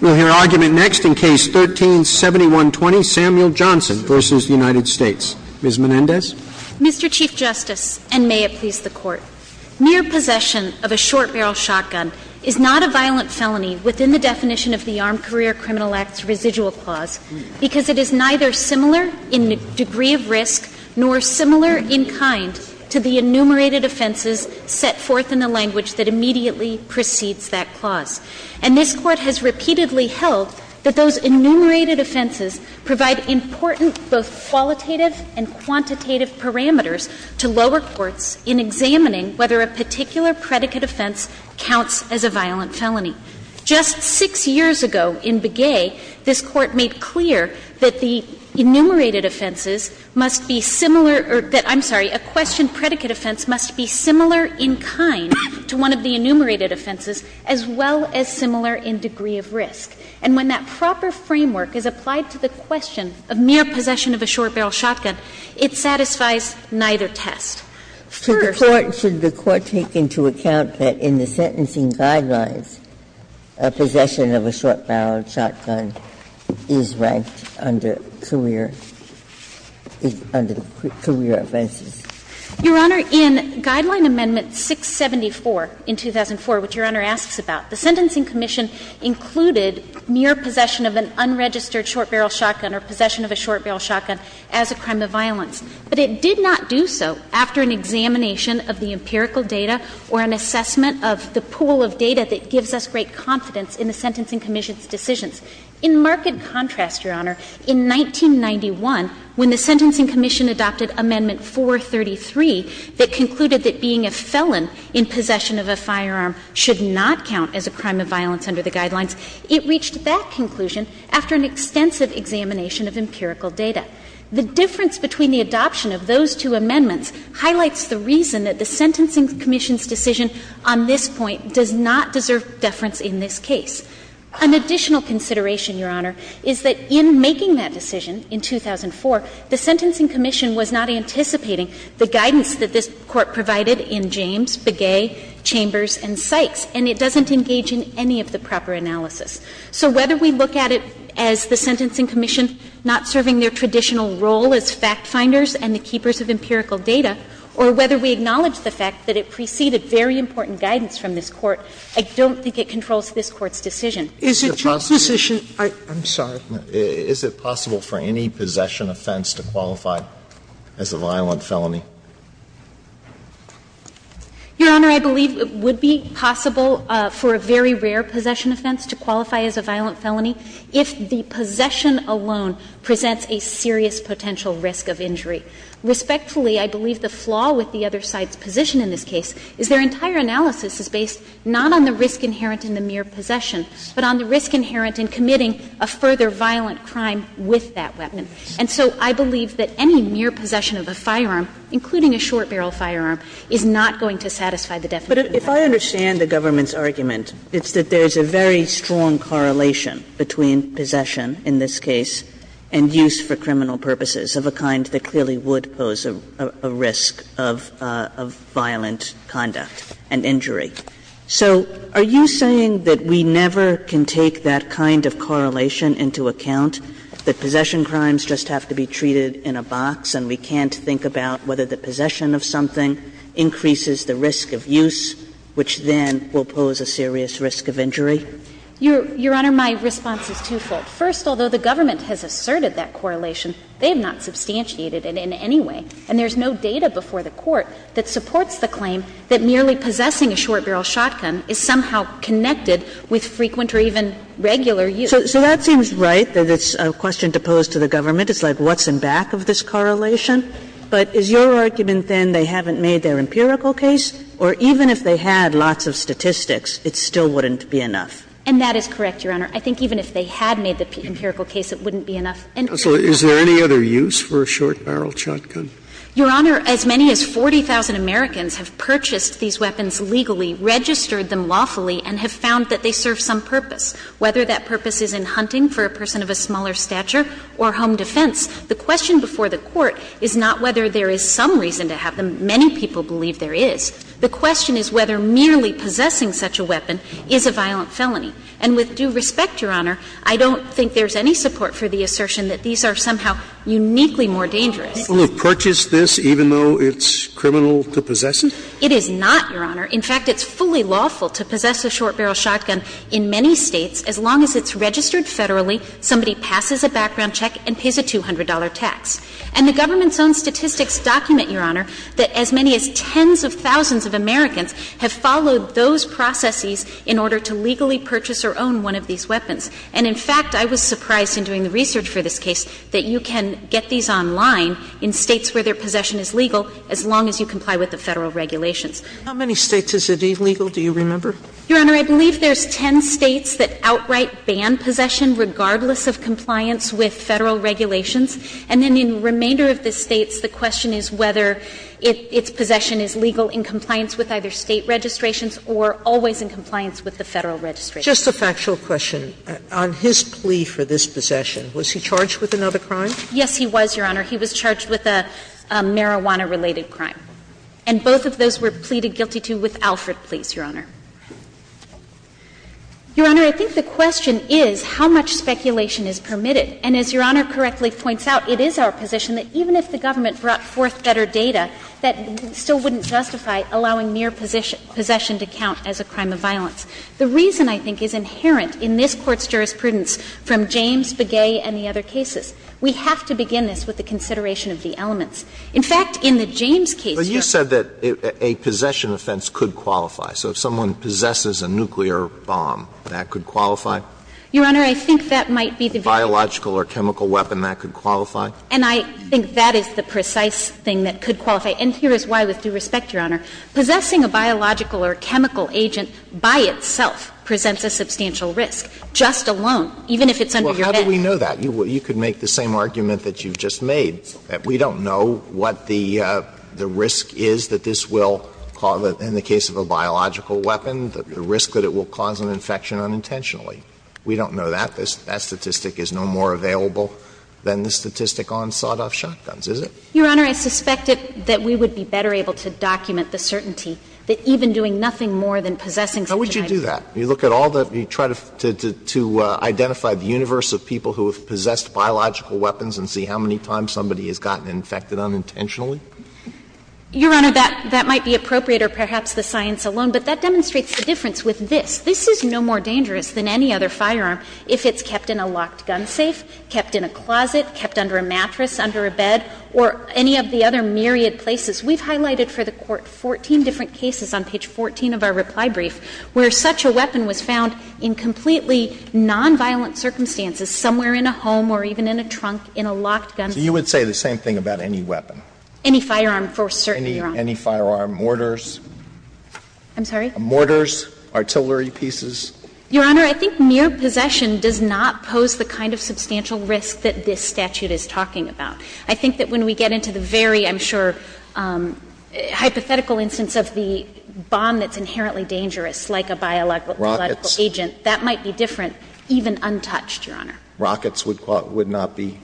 We'll hear argument next in Case 13-7120, Samuel Johnson v. United States. Ms. Menendez? Mr. Chief Justice, and may it please the Court, near possession of a short-barrel shotgun is not a violent felony within the definition of the Armed Career Criminal Act's residual clause because it is neither similar in degree of risk nor similar in kind to the enumerated offenses set forth in the language that immediately precedes that clause. And this Court has repeatedly held that those enumerated offenses provide important both qualitative and quantitative parameters to lower courts in examining whether a particular predicate offense counts as a violent felony. Just six years ago in Begay, this Court made clear that the enumerated offenses must be similar or that, I'm sorry, a questioned predicate offense must be similar in kind to one of the enumerated offenses, as well as similar in degree of risk. And when that proper framework is applied to the question of mere possession of a short-barrel shotgun, it satisfies neither test. Ginsburg. Ginsburg. Should the Court take into account that in the sentencing guidelines a possession of a short-barrel shotgun is ranked under career offenses? Your Honor, in Guideline Amendment 674 in 2004, which Your Honor asks about, the Sentencing Commission included mere possession of an unregistered short-barrel shotgun or possession of a short-barrel shotgun as a crime of violence. But it did not do so after an examination of the empirical data or an assessment of the pool of data that gives us great confidence in the Sentencing Commission's decisions. In marked contrast, Your Honor, in 1991, when the Sentencing Commission adopted Amendment 433 that concluded that being a felon in possession of a firearm should not count as a crime of violence under the guidelines, it reached that conclusion after an extensive examination of empirical data. The difference between the adoption of those two amendments highlights the reason that the Sentencing Commission's decision on this point does not deserve deference in this case. An additional consideration, Your Honor, is that in making that decision in 2004, the Sentencing Commission was not anticipating the guidance that this Court provided in James, Begay, Chambers, and Sykes, and it doesn't engage in any of the proper analysis. So whether we look at it as the Sentencing Commission not serving their traditional role as fact-finders and the keepers of empirical data, or whether we acknowledge the fact that it preceded very important guidance from this Court, I don't think it controls this Court's decision. Sotomayor, I'm sorry. Alito, is it possible for any possession offense to qualify as a violent felony? Your Honor, I believe it would be possible for a very rare possession offense to qualify as a violent felony if the possession alone presents a serious potential risk of injury. Respectfully, I believe the flaw with the other side's position in this case is their entire analysis is based not on the risk inherent in the mere possession, but on the risk inherent in committing a further violent crime with that weapon. And so I believe that any mere possession of a firearm, including a short barrel firearm, is not going to satisfy the definition of violence. Kagan. Kagan. But if I understand the government's argument, it's that there's a very strong correlation between possession in this case and use for criminal purposes of a kind that clearly would pose a risk of violent conduct and injury. So are you saying that we never can take that kind of correlation into account, that possession crimes just have to be treated in a box and we can't think about whether the possession of something increases the risk of use, which then will pose a serious risk of injury? Your Honor, my response is twofold. First, although the government has asserted that correlation, they have not substantiated it in any way. And there's no data before the Court that supports the claim that merely possessing a short barrel shotgun is somehow connected with frequent or even regular use. So that seems right, that it's a question to pose to the government. It's like what's in back of this correlation. But is your argument, then, they haven't made their empirical case, or even if they had lots of statistics, it still wouldn't be enough? And that is correct, Your Honor. I think even if they had made the empirical case, it wouldn't be enough. And also, is there any other use for a short barrel shotgun? Your Honor, as many as 40,000 Americans have purchased these weapons legally, registered them lawfully, and have found that they serve some purpose, whether that purpose is in hunting for a person of a smaller stature or home defense. The question before the Court is not whether there is some reason to have them. Many people believe there is. The question is whether merely possessing such a weapon is a violent felony. And with due respect, Your Honor, I don't think there's any support for the assertion that these are somehow uniquely more dangerous. Scalia, even though it's criminal to possess it? It is not, Your Honor. In fact, it's fully lawful to possess a short barrel shotgun in many States, as long as it's registered federally, somebody passes a background check and pays a $200 tax. And the government's own statistics document, Your Honor, that as many as tens of thousands of Americans have followed those processes in order to legally purchase or own one of these weapons. And in fact, I was surprised in doing the research for this case that you can get these online in States where their possession is legal as long as you comply with the Federal regulations. How many States is it illegal, do you remember? Your Honor, I believe there's ten States that outright ban possession regardless of compliance with Federal regulations. And then in the remainder of the States, the question is whether its possession is legal in compliance with either State registrations or always in compliance with the Federal registration. Just a factual question. On his plea for this possession, was he charged with another crime? Yes, he was, Your Honor. He was charged with a marijuana-related crime. And both of those were pleaded guilty to with Alfred Pleas, Your Honor. Your Honor, I think the question is how much speculation is permitted. And as Your Honor correctly points out, it is our position that even if the government brought forth better data, that still wouldn't justify allowing mere possession to count as a crime of violence. The reason, I think, is inherent in this Court's jurisprudence from James, Begay, and the other cases. We have to begin this with the consideration of the elements. In fact, in the James case, Your Honor you said that a possession offense could qualify. So if someone possesses a nuclear bomb, that could qualify? Your Honor, I think that might be the very case. A biological or chemical weapon, that could qualify? And I think that is the precise thing that could qualify. And here is why, with due respect, Your Honor, possessing a biological or chemical agent by itself presents a substantial risk, just alone, even if it's under your bed. Well, how do we know that? You could make the same argument that you just made. We don't know what the risk is that this will cause, in the case of a biological weapon, the risk that it will cause an infection unintentionally. We don't know that. That statistic is no more available than the statistic on sawed-off shotguns, is it? Your Honor, I suspect that we would be better able to document the certainty that even doing nothing more than possessing such a high rate. How would you do that? You look at all the ‑‑ you try to identify the universe of people who have possessed biological weapons and see how many times somebody has gotten infected unintentionally? Your Honor, that might be appropriate, or perhaps the science alone, but that demonstrates the difference with this. This is no more dangerous than any other firearm if it's kept in a locked gun safe, kept in a closet, kept under a mattress, under a bed, or any of the other myriad places. We've highlighted for the Court 14 different cases on page 14 of our reply brief where such a weapon was found in completely nonviolent circumstances, somewhere in a home or even in a trunk, in a locked gun ‑‑ So you would say the same thing about any weapon? Any firearm for certain, Your Honor. Any firearm, mortars? I'm sorry? Mortars, artillery pieces? Your Honor, I think mere possession does not pose the kind of substantial risk that this statute is talking about. I think that when we get into the very, I'm sure, hypothetical instance of the bomb that's inherently dangerous, like a biological agent, that might be different, even untouched, Your Honor. Rockets would not be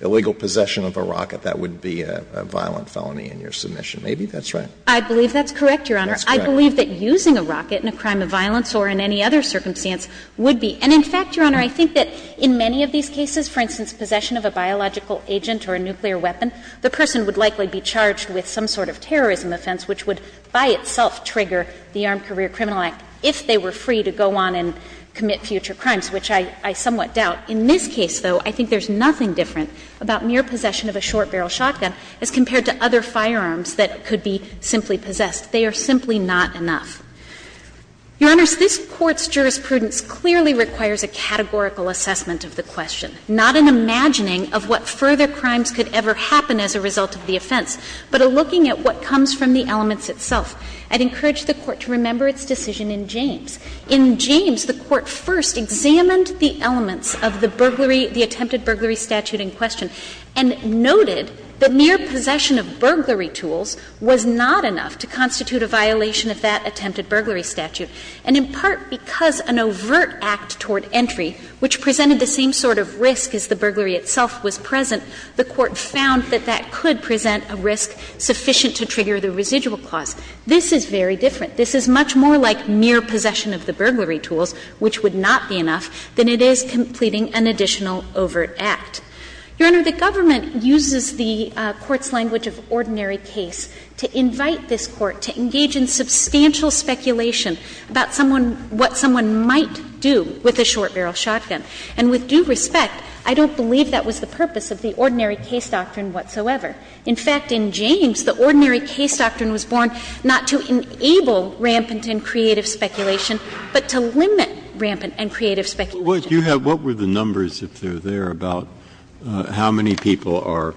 illegal possession of a rocket. That would be a violent felony in your submission. Maybe that's right. I believe that's correct, Your Honor. I believe that using a rocket in a crime of violence or in any other circumstance would be. And in fact, Your Honor, I think that in many of these cases, for instance, possession of a biological agent or a nuclear weapon, the person would likely be charged with some sort of terrorism offense, which would by itself trigger the Armed Career Criminal Act, if they were free to go on and commit future crimes, which I somewhat doubt. In this case, though, I think there's nothing different about mere possession of a short-barrel shotgun as compared to other firearms that could be simply possessed. They are simply not enough. Your Honors, this Court's jurisprudence clearly requires a categorical assessment of the question, not an imagining of what further crimes could ever happen as a result of the offense, but a looking at what comes from the elements itself. I'd encourage the Court to remember its decision in James. In James, the Court first examined the elements of the burglary, the attempted burglary statute in question, and noted that mere possession of burglary tools was not enough to constitute a violation of that attempted burglary statute. And in part because an overt act toward entry, which presented the same sort of risk as the burglary itself was present, the Court found that that could present a risk sufficient to trigger the residual clause. This is very different. This is much more like mere possession of the burglary tools, which would not be enough, than it is completing an additional overt act. Your Honor, the government uses the Court's language of ordinary case to invite this Court to engage in substantial speculation about someone — what someone might do with a short-barrel shotgun. And with due respect, I don't believe that was the purpose of the ordinary case doctrine whatsoever. In fact, in James, the ordinary case doctrine was born not to enable rampant and creative speculation, but to limit rampant and creative speculation. Breyer, what do you have — what were the numbers, if they're there, about how many people are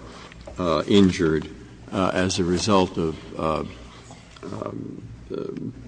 injured as a result of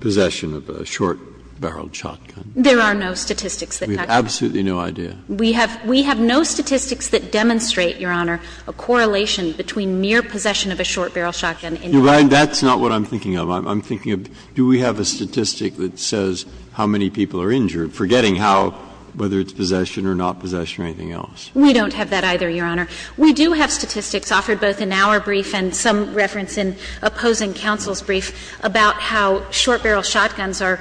possession of a short-barreled shotgun? There are no statistics that tell you that. We have absolutely no idea. We have — we have no statistics that demonstrate, Your Honor, a correlation between mere possession of a short-barrel shotgun and — That's not what I'm thinking of. I'm thinking of, do we have a statistic that says how many people are injured, forgetting how — whether it's possession or not possession or anything else? We don't have that either, Your Honor. We do have statistics offered both in our brief and some reference in opposing counsel's brief about how short-barrel shotguns are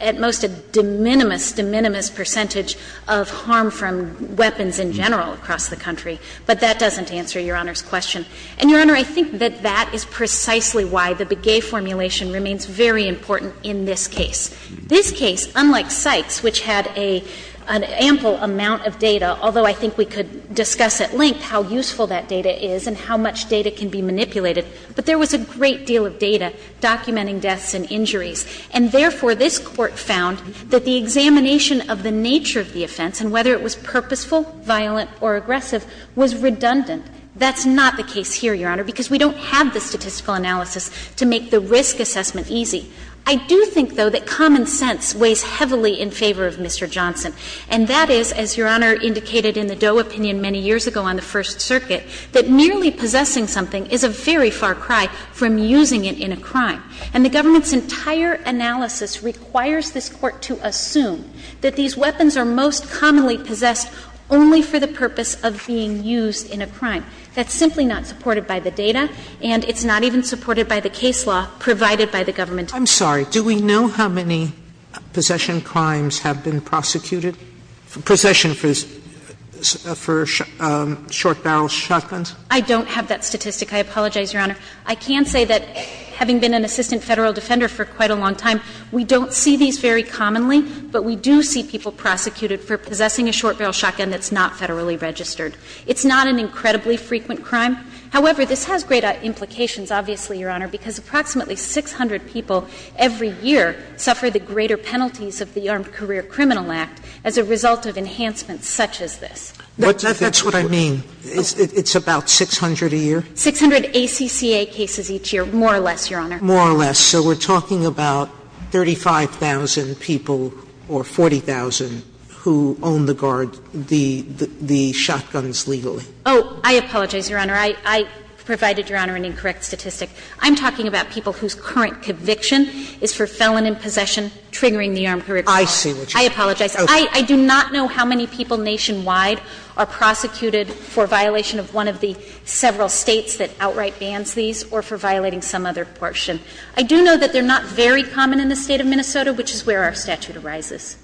at most a de minimis, de minimis percentage of harm from weapons in general across the country. But that doesn't answer Your Honor's question. And, Your Honor, I think that that is precisely why the Begay formulation remains very important in this case. This case, unlike Sykes, which had a — an ample amount of data, although I think we could discuss at length how useful that data is and how much data can be manipulated, but there was a great deal of data documenting deaths and injuries. And therefore, this Court found that the examination of the nature of the offense and whether it was purposeful, violent, or aggressive was redundant. That's not the case here, Your Honor, because we don't have the statistical analysis to make the risk assessment easy. I do think, though, that common sense weighs heavily in favor of Mr. Johnson. And that is, as Your Honor indicated in the Doe opinion many years ago on the First Circuit, that merely possessing something is a very far cry from using it in a crime. And the government's entire analysis requires this Court to assume that these weapons are most commonly possessed only for the purpose of being used in a crime. That's simply not supported by the data, and it's not even supported by the case law provided by the government. Sotomayor, do we know how many possession crimes have been prosecuted? Possession for short-barrel shotguns? I don't have that statistic. I apologize, Your Honor. I can say that, having been an assistant Federal defender for quite a long time, we don't see these very commonly, but we do see people prosecuted for possessing a short-barrel shotgun that's not Federally registered. It's not an incredibly frequent crime. However, this has great implications, obviously, Your Honor, because approximately 600 people every year suffer the greater penalties of the Armed Career Criminal Act as a result of enhancements such as this. That's what I mean. It's about 600 a year? 600 ACCA cases each year, more or less, Your Honor. More or less. So we're talking about 35,000 people or 40,000 who own the guard the shotguns legally? Oh, I apologize, Your Honor. I provided, Your Honor, an incorrect statistic. I'm talking about people whose current conviction is for felon in possession triggering the Armed Career Criminal Act. I see what you're saying. I apologize. I do not know how many people nationwide are prosecuted for violation of one of the several States that outright bans these or for violating some other portion. I do know that they're not very common in the State of Minnesota, which is where our statute arises.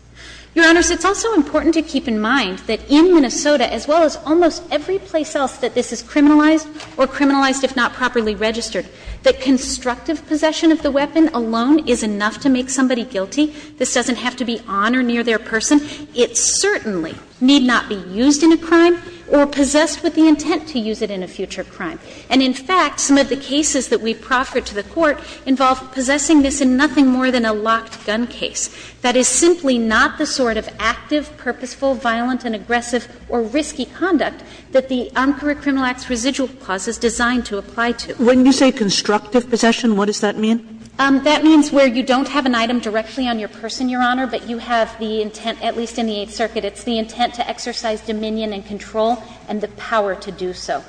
Your Honors, it's also important to keep in mind that in Minnesota, as well as almost every place else that this is criminalized or criminalized if not properly registered, that constructive possession of the weapon alone is enough to make somebody guilty. This doesn't have to be on or near their person. It certainly need not be used in a crime or possessed with the intent to use it in a future crime. And in fact, some of the cases that we've proffered to the Court involve possessing this in nothing more than a locked gun case. That is simply not the sort of active, purposeful, violent and aggressive or risky conduct that the Armed Career Criminal Act's residual clause is designed to apply to. When you say constructive possession, what does that mean? That means where you don't have an item directly on your person, Your Honor, but you have the intent, at least in the Eighth Circuit, it's the intent to exercise dominion and control and the power to do so.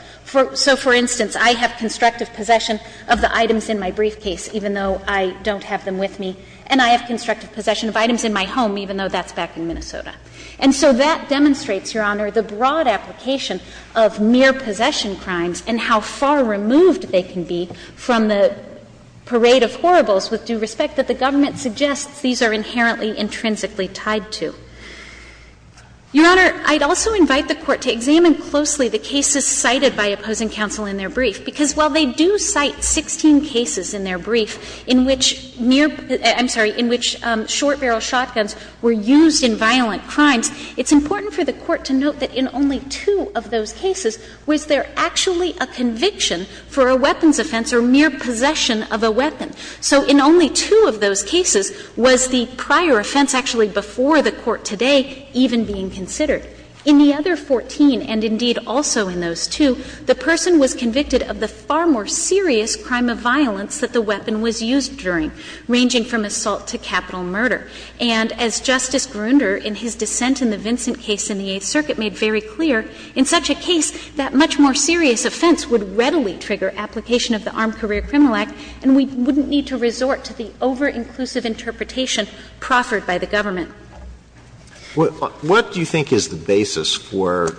So, for instance, I have constructive possession of the items in my briefcase, even though I don't have them with me, and I have constructive possession of items in my home, even though that's back in Minnesota. And so that demonstrates, Your Honor, the broad application of mere possession crimes and how far removed they can be from the parade of horribles with due respect that the government suggests these are inherently intrinsically tied to. Your Honor, I'd also invite the Court to examine closely the cases cited by opposing counsel in their brief, because while they do cite 16 cases in their brief in which mere — I'm sorry, in which short-barrel shotguns were used in violent crimes, it's important for the Court to note that in only two of those cases was there actually a conviction for a weapons offense or mere possession of a weapon. So in only two of those cases was the prior offense actually before the court's court today even being considered. In the other 14, and indeed also in those two, the person was convicted of the far more serious crime of violence that the weapon was used during, ranging from assault to capital murder. And as Justice Grunder, in his dissent in the Vincent case in the Eighth Circuit, made very clear, in such a case that much more serious offense would readily trigger application of the Armed Career Criminal Act, and we wouldn't need to resort to the over-inclusive interpretation proffered by the government. Alitoson What do you think is the basis for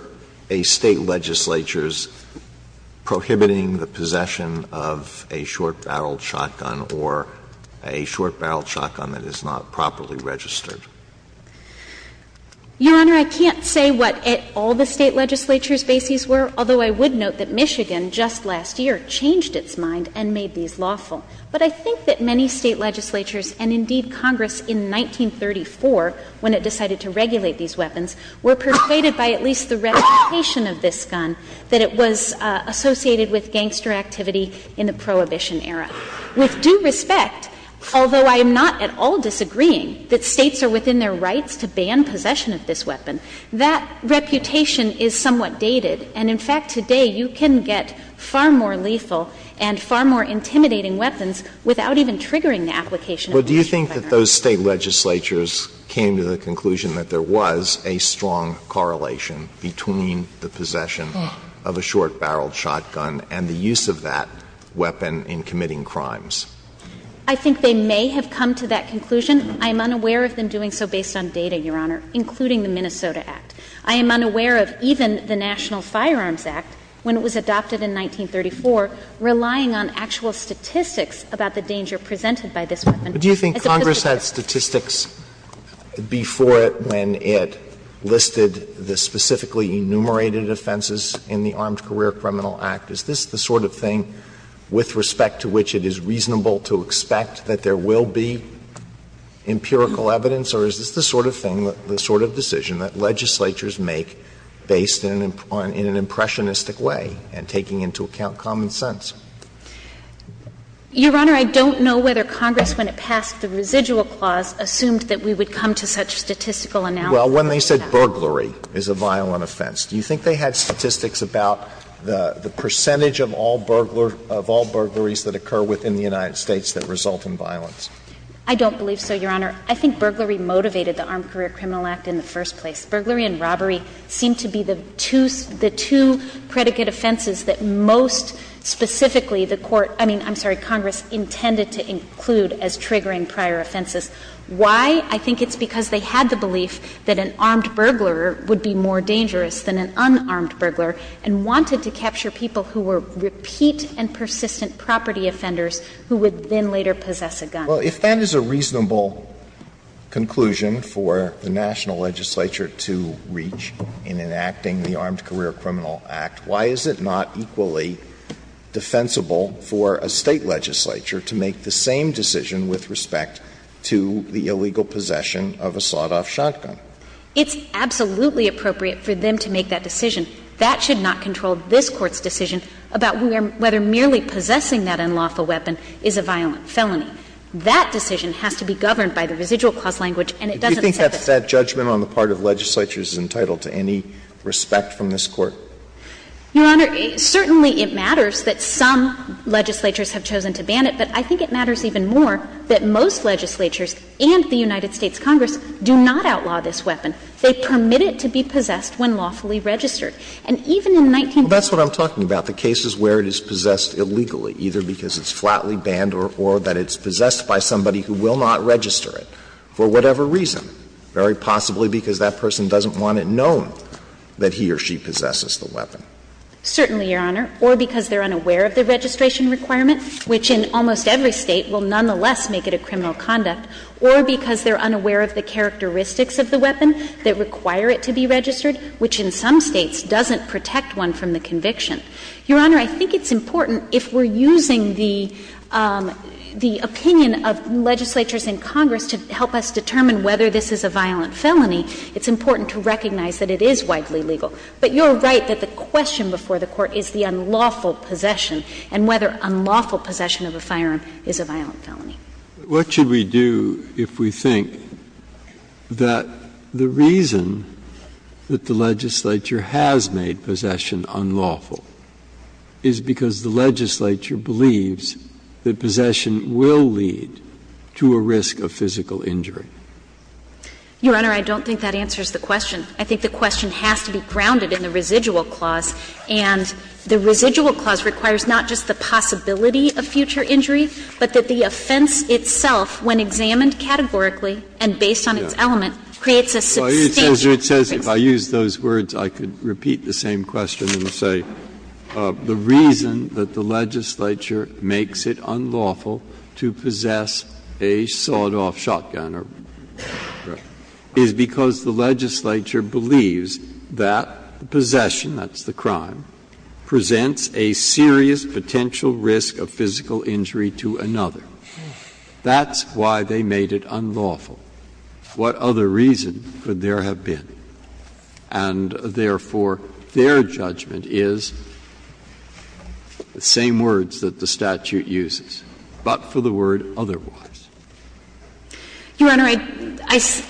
a State legislature's prohibiting the possession of a short-barreled shotgun or a short-barreled shotgun that is not properly registered? O'Connor Your Honor, I can't say what at all the State legislature's bases were, although I would note that Michigan just last year changed its mind and made these lawful. But I think that many State legislatures, and indeed Congress in 1934, when it decided to regulate these weapons, were persuaded by at least the reputation of this gun that it was associated with gangster activity in the Prohibition era. With due respect, although I am not at all disagreeing that States are within their rights to ban possession of this weapon, that reputation is somewhat dated, and in fact, there are far more intimidating weapons without even triggering the application of the Michigan firearm. Alitoson But do you think that those State legislatures came to the conclusion that there was a strong correlation between the possession of a short-barreled shotgun and the use of that weapon in committing crimes? O'Connor I think they may have come to that conclusion. I am unaware of them doing so based on data, Your Honor, including the Minnesota Act. I am unaware of even the National Firearms Act, when it was adopted in 1934, relying on actual statistics about the danger presented by this weapon. Alitoson But do you think Congress had statistics before it when it listed the specifically enumerated offenses in the Armed Career Criminal Act? Is this the sort of thing with respect to which it is reasonable to expect that there will be empirical evidence, or is this the sort of thing, the sort of decision that legislatures make based in an impressionistic way and taking into account common sense? O'Connor Your Honor, I don't know whether Congress, when it passed the residual clause, assumed that we would come to such statistical analysis. Alitoson Well, when they said burglary is a violent offense, do you think they had statistics about the percentage of all burglaries that occur within the United States that result in violence? O'Connor I don't believe so, Your Honor. I think burglary motivated the Armed Career Criminal Act in the first place. Burglary and robbery seem to be the two predicate offenses that most specifically the Court – I mean, I'm sorry, Congress intended to include as triggering prior offenses. Why? I think it's because they had the belief that an armed burglar would be more dangerous than an unarmed burglar, and wanted to capture people who were repeat and persistent property offenders who would then later possess a gun. Alitoson Well, if that is a reasonable conclusion for the national legislature to reach in enacting the Armed Career Criminal Act, why is it not equally defensive for a State legislature to make the same decision with respect to the illegal possession of a sawed-off shotgun? O'Connor It's absolutely appropriate for them to make that decision. That should not control this Court's decision about whether merely possessing that unlawful weapon is a violent felony. That decision has to be governed by the residual clause language, and it doesn't accept that. Alitoson Do you think that that judgment on the part of legislatures is entitled to any respect from this Court? O'Connor Your Honor, certainly it matters that some legislatures have chosen to ban it, but I think it matters even more that most legislatures and the United States Congress do not outlaw this weapon. They permit it to be possessed when lawfully registered. And even in 1912, the case is where it is possessed illegally, either because it's flatly banned or that it's possessed by somebody who will not register it for whatever reason, very possibly because that person doesn't want it known that he or she possesses the weapon. O'Connor Certainly, Your Honor, or because they're unaware of the registration requirement, which in almost every State will nonetheless make it a criminal conduct, or because they're unaware of the characteristics of the weapon that require it to be registered, which in some States doesn't protect one from the conviction. Your Honor, I think it's important if we're using the opinion of legislatures in Congress to help us determine whether this is a violent felony, it's important to recognize that it is widely legal. But you're right that the question before the Court is the unlawful possession and whether unlawful possession of a firearm is a violent felony. Breyer What should we do if we think that the reason that the legislature has made possession unlawful is because the legislature believes that possession will lead to a risk of physical injury? O'Connor Your Honor, I don't think that answers the question. I think the question has to be grounded in the residual clause, and the residual clause requires not just the possibility of future injury, but that the offense itself, when examined categorically and based on its element, creates a substantial risk. Breyer It says, if I use those words, I could repeat the same question and say, the reason that the legislature makes it unlawful to possess a sawed-off shotgun is because the legislature believes that possession, that's the crime, presents a serious potential risk of physical injury to another. That's why they made it unlawful. What other reason could there have been? And, therefore, their judgment is the same words that the statute uses, but for the word otherwise. O'Connor Your Honor,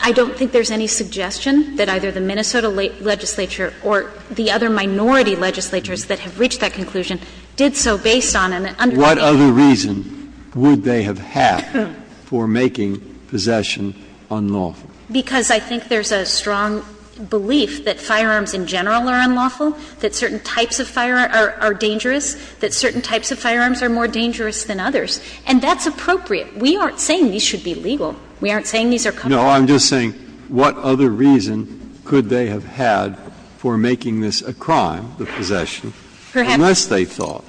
I don't think there's any suggestion that either the Minnesota legislature or the other minority legislatures that have reached that conclusion did so based on an understanding. Breyer What other reason would they have had for making possession unlawful? O'Connor Because I think there's a strong belief that firearms in general are unlawful, that certain types of firearms are dangerous, that certain types of firearms are more dangerous than others. And that's appropriate. We aren't saying these should be legal. We aren't saying these are common. Breyer No, I'm just saying, what other reason could they have had for making this a crime, the possession, unless they thought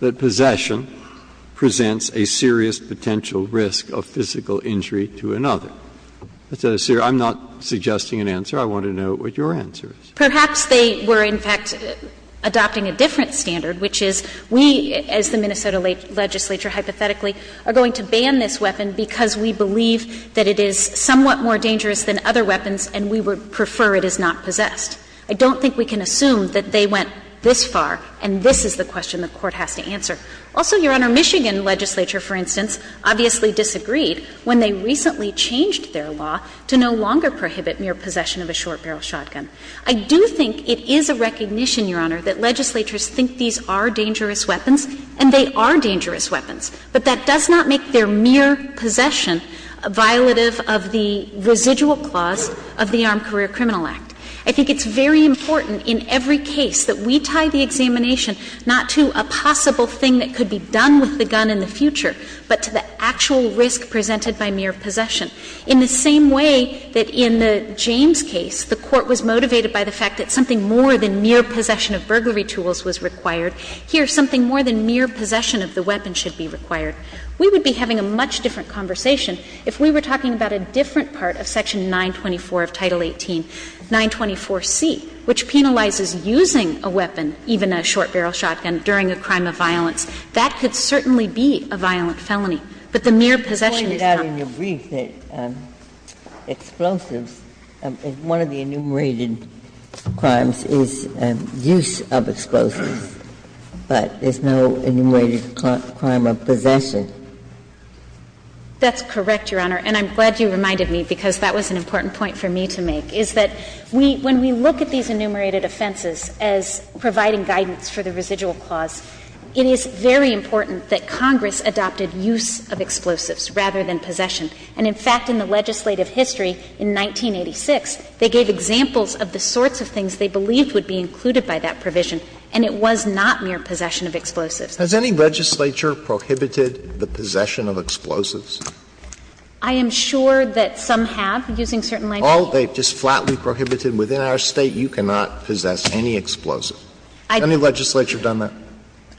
that possession presents a serious potential risk of physical injury to another? I'm not suggesting an answer. I want to know what your answer is. O'Connor Perhaps they were, in fact, adopting a different standard, which is we, as the Minnesota legislature, hypothetically, are going to ban this weapon because we believe that it is somewhat more dangerous than other weapons and we would prefer it is not possessed. I don't think we can assume that they went this far and this is the question the Court has to answer. Also, Your Honor, Michigan legislature, for instance, obviously disagreed when they recently changed their law to no longer prohibit mere possession of a short-barrel shotgun. I do think it is a recognition, Your Honor, that legislatures think these are dangerous weapons and they are dangerous weapons, but that does not make their mere possession violative of the residual clause of the Armed Career Criminal Act. I think it's very important in every case that we tie the examination not to a possible thing that could be done with the gun in the future, but to the actual risk presented by mere possession. In the same way that in the James case, the Court was motivated by the fact that something more than mere possession of burglary tools was required, here something more than mere possession of the weapon should be required. We would be having a much different conversation if we were talking about a different part of section 924 of Title 18, 924C, which penalizes using a weapon, even a short-barrel shotgun, during a crime of violence. That could certainly be a violent felony, but the mere possession is not. Ginsburg. I think in your brief that explosives, one of the enumerated crimes is use of explosives, but there's no enumerated crime of possession. That's correct, Your Honor, and I'm glad you reminded me, because that was an important point for me to make, is that we — when we look at these enumerated offenses as providing guidance for the residual clause, it is very important that Congress adopted use of explosives rather than possession. And, in fact, in the legislative history in 1986, they gave examples of the sorts of things they believed would be included by that provision, and it was not mere possession of explosives. Has any legislature prohibited the possession of explosives? I am sure that some have, using certain lines of law. Oh, they've just flatly prohibited within our State, you cannot possess any explosive. Has any legislature done that?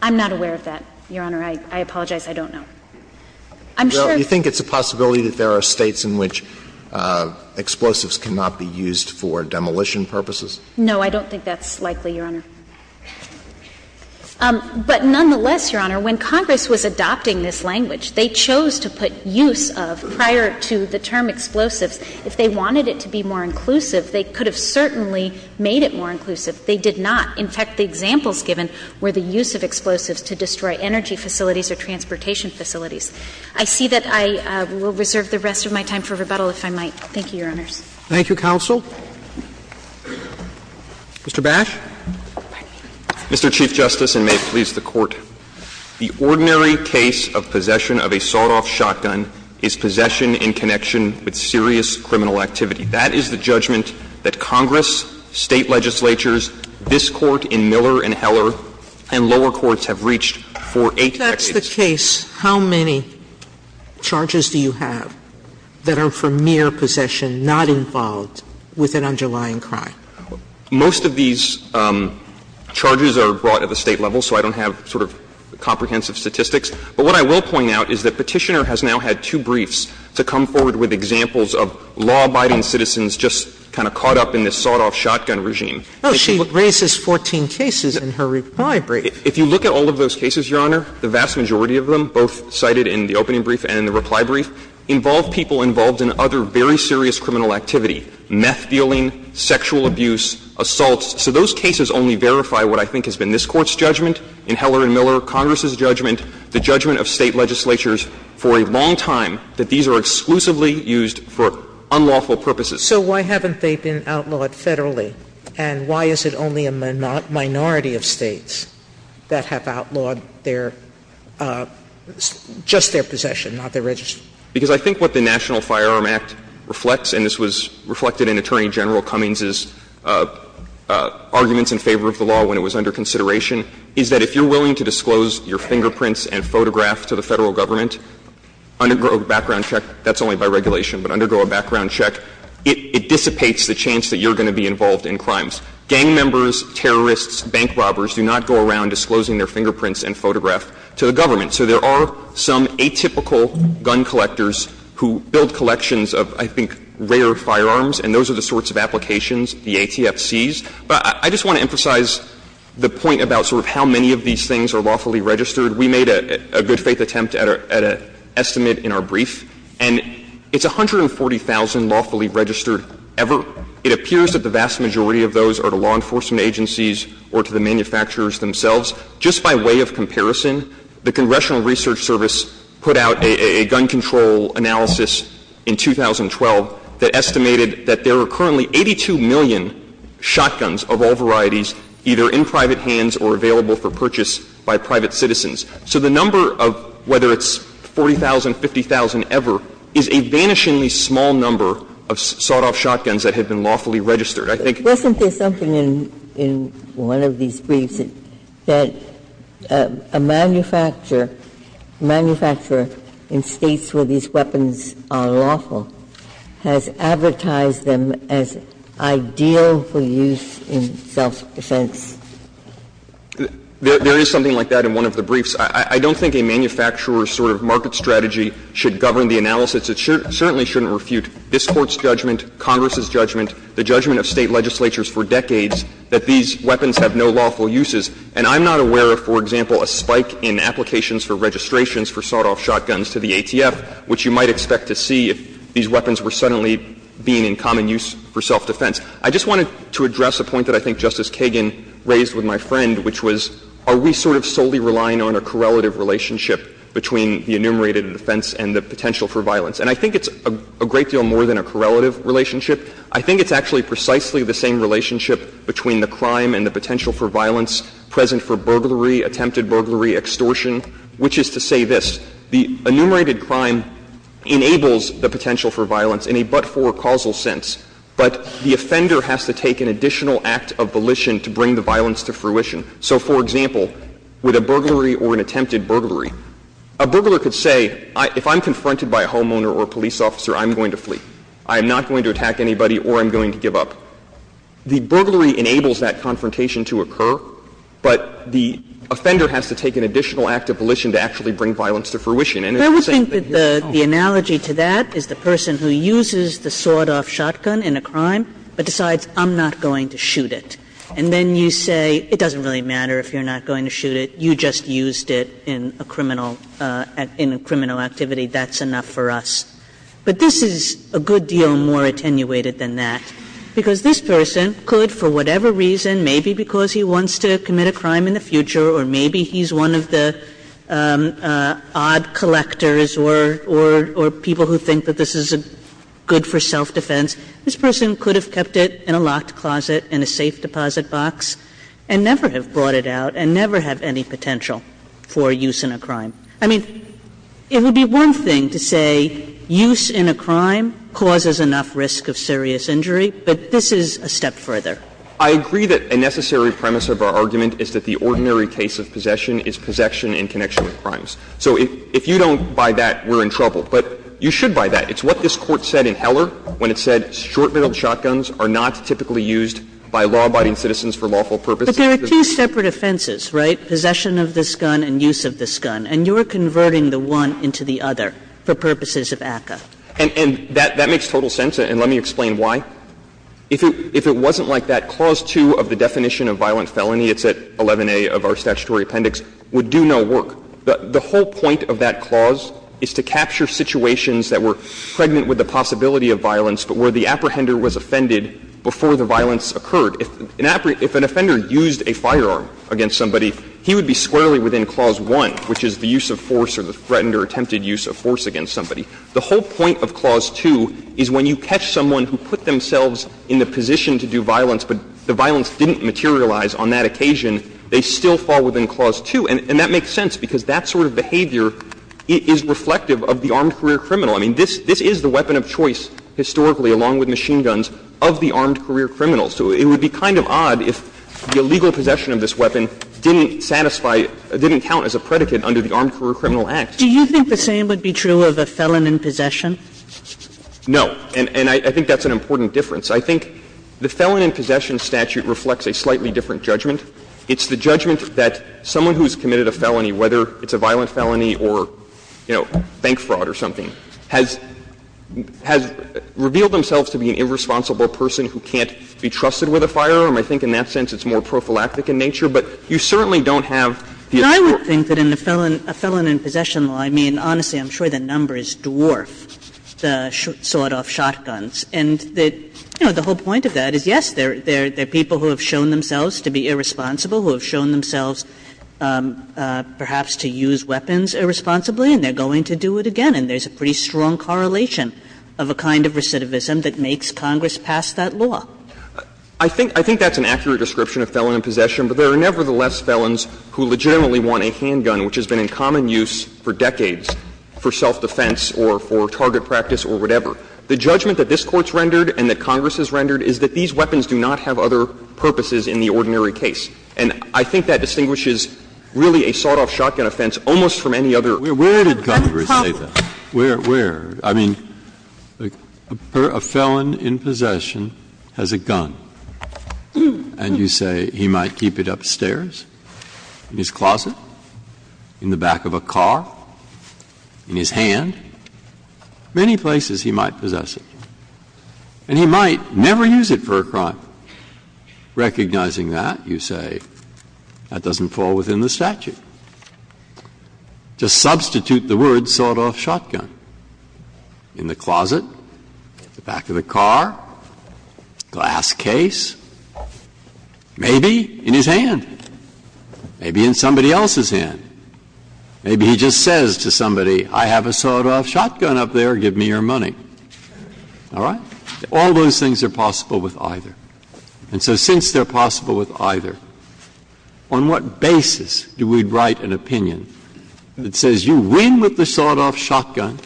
I'm not aware of that, Your Honor. I apologize. I don't know. I'm sure of that. Well, you think it's a possibility that there are States in which explosives cannot be used for demolition purposes? No, I don't think that's likely, Your Honor. But nonetheless, Your Honor, when Congress was adopting this language, they chose to put use of, prior to the term explosives, if they wanted it to be more inclusive, they could have certainly made it more inclusive. They did not. In fact, the examples given were the use of explosives to destroy energy facilities or transportation facilities. I see that I will reserve the rest of my time for rebuttal, if I might. Thank you, Your Honors. Thank you, counsel. Mr. Bash. Mr. Chief Justice, and may it please the Court. The ordinary case of possession of a sawed-off shotgun is possession in connection with serious criminal activity. That is the judgment that Congress, State legislatures, this Court in Miller and Heller, and lower courts have reached for eight decades. If that's the case, how many charges do you have that are for mere possession, not involved with an underlying crime? Most of these charges are brought at the State level, so I don't have sort of comprehensive statistics. But what I will point out is that Petitioner has now had two briefs to come forward with examples of law-abiding citizens just kind of caught up in this sawed-off shotgun regime. Oh, she raises 14 cases in her reply brief. If you look at all of those cases, Your Honor, the vast majority of them, both cited in the opening brief and in the reply brief, involve people involved in other very serious criminal activity, meth dealing, sexual abuse, assaults. So those cases only verify what I think has been this Court's judgment in Heller and Miller, Congress's judgment, the judgment of State legislatures for a long time that these are exclusively used for unlawful purposes. Sotomayor So why haven't they been outlawed federally? And why is it only a minority of States that have outlawed their, just their possession, not their registry? Because I think what the National Firearm Act reflects, and this was reflected in Attorney General Cummings' arguments in favor of the law when it was under consideration, is that if you're willing to disclose your fingerprints and photograph to the Federal Government, undergo a background check, that's only by regulation, but undergo a background check, it dissipates the chance that you're going to be involved in crimes. Gang members, terrorists, bank robbers do not go around disclosing their fingerprints and photograph to the government. So there are some atypical gun collectors who build collections of, I think, rare firearms, and those are the sorts of applications the ATF sees. But I just want to emphasize the point about sort of how many of these things are lawfully registered. We made a good-faith attempt at an estimate in our brief, and it's 140,000 lawfully registered ever. It appears that the vast majority of those are to law enforcement agencies or to the manufacturers themselves. Just by way of comparison, the Congressional Research Service put out a gun control analysis in 2012 that estimated that there are currently 82 million shotguns of all varieties either in private hands or available for purchase by private citizens. So the number of whether it's 40,000, 50,000 ever is a vanishingly small number of sought-off shotguns that had been lawfully registered. I think there's something in one of these briefs that a manufacturer, a manufacturer in States where these weapons are lawful, has advertised them as ideal for use in self-defense. There is something like that in one of the briefs. I don't think a manufacturer's sort of market strategy should govern the analysis. It certainly shouldn't refute this Court's judgment, Congress's judgment, the judgment of State legislatures for decades that these weapons have no lawful uses. And I'm not aware of, for example, a spike in applications for registrations for sought-off shotguns to the ATF, which you might expect to see if these weapons were suddenly being in common use for self-defense. I just wanted to address a point that I think Justice Kagan raised with my friend, which was are we sort of solely relying on a correlative relationship between the enumerated offense and the potential for violence? And I think it's a great deal more than a correlative relationship. I think it's actually precisely the same relationship between the crime and the potential for violence present for burglary, attempted burglary, extortion, which is to say this. The enumerated crime enables the potential for violence in a but-for causal sense, but the offender has to take an additional act of volition to bring the violence to fruition. So, for example, with a burglary or an attempted burglary, a burglar could say, if I'm confronted by a homeowner or a police officer, I'm going to flee. I am not going to attack anybody or I'm going to give up. The burglary enables that confrontation to occur, but the offender has to take an additional act of volition to actually bring violence to fruition. And it's the same thing here. The analogy to that is the person who uses the sawed-off shotgun in a crime but decides I'm not going to shoot it. And then you say, it doesn't really matter if you're not going to shoot it. You just used it in a criminal activity. That's enough for us. But this is a good deal more attenuated than that, because this person could, for whatever reason, maybe because he wants to commit a crime in the future or maybe he's one of the odd collectors or people who think that this is good for self-defense, this person could have kept it in a locked closet in a safe deposit box and never have brought it out and never have any potential for use in a crime. I mean, it would be one thing to say use in a crime causes enough risk of serious injury, but this is a step further. I agree that a necessary premise of our argument is that the ordinary case of possession is possession in connection with crimes. So if you don't buy that, we're in trouble. But you should buy that. It's what this Court said in Heller, when it said short-barreled shotguns are not typically used by law-abiding citizens for lawful purposes. Kagan. But there are two separate offenses, right, possession of this gun and use of this gun, and you're converting the one into the other for purposes of ACCA. And that makes total sense, and let me explain why. If it wasn't like that, clause 2 of the definition of violent felony, it's at 11A of our statutory appendix, would do no work. The whole point of that clause is to capture situations that were pregnant with the possibility of violence, but where the apprehender was offended before the violence occurred. If an offender used a firearm against somebody, he would be squarely within clause 1, which is the use of force or the threatened or attempted use of force against somebody. The whole point of clause 2 is when you catch someone who put themselves in the position to do violence, but the violence didn't materialize on that occasion, they still fall within clause 2. And that makes sense, because that sort of behavior is reflective of the armed career criminal. I mean, this is the weapon of choice, historically, along with machine guns, of the armed career criminal. So it would be kind of odd if the illegal possession of this weapon didn't satisfy or didn't count as a predicate under the Armed Career Criminal Act. Do you think the same would be true of a felon in possession? No, and I think that's an important difference. I think the felon in possession statute reflects a slightly different judgment. It's the judgment that someone who's committed a felony, whether it's a violent felony or, you know, bank fraud or something, has revealed themselves to be an irresponsible person who can't be trusted with a firearm. I think in that sense it's more prophylactic in nature, but you certainly don't have the authority. Kagan. I would think that in a felon in possession law, I mean, honestly, I'm sure the numbers dwarf the sort of shotguns. And, you know, the whole point of that is, yes, there are people who have shown themselves to be irresponsible, who have shown themselves perhaps to use weapons irresponsibly, and they're going to do it again. And there's a pretty strong correlation of a kind of recidivism that makes Congress pass that law. I think that's an accurate description of felon in possession, but there are nevertheless felons who legitimately want a handgun, which has been in common use for decades for self-defense or for target practice or whatever. The judgment that this Court's rendered and that Congress has rendered is that these weapons do not have other purposes in the ordinary case. And I think that distinguishes really a sawed-off shotgun offense almost from any other. Breyer. Where did Congress say that? Where? Where? I mean, a felon in possession has a gun, and you say he might keep it upstairs, in his closet, in the back of a car, in his hand. Many places he might possess it. And he might never use it for a crime. Recognizing that, you say that doesn't fall within the statute. Just substitute the word sawed-off shotgun in the closet, the back of the car, glass case, maybe in his hand, maybe in somebody else's hand. Maybe he just says to somebody, I have a sawed-off shotgun up there, give me your money. All right? All those things are possible with either. And so since they're possible with either, on what basis do we write an opinion that says you win with the sawed-off shotgun,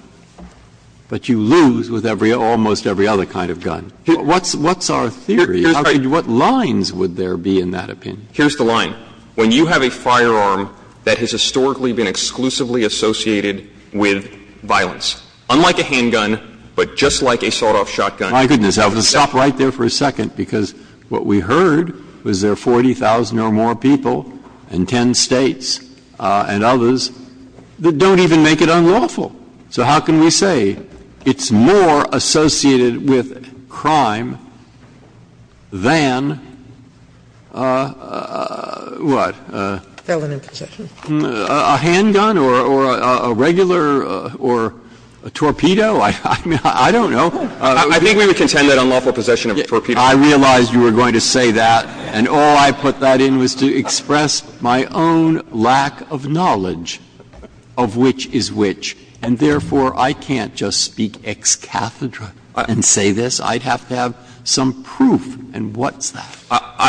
but you lose with every almost every other kind of gun? What's our theory? What lines would there be in that opinion? Here's the line. When you have a firearm that has historically been exclusively associated with violence, unlike a handgun, but just like a sawed-off shotgun. Breyer. My goodness, I'll stop right there for a second, because what we heard was there are 40,000 or more people in 10 States and others that don't even make it unlawful. So how can we say it's more associated with crime than what? A handgun or a regular or a torpedo? I don't know. I think we would contend that unlawful possession of a torpedo. I realized you were going to say that, and all I put that in was to express my own lack of knowledge of which is which, and therefore, I can't just speak ex cathedra and say this. I'd have to have some proof. And what's that?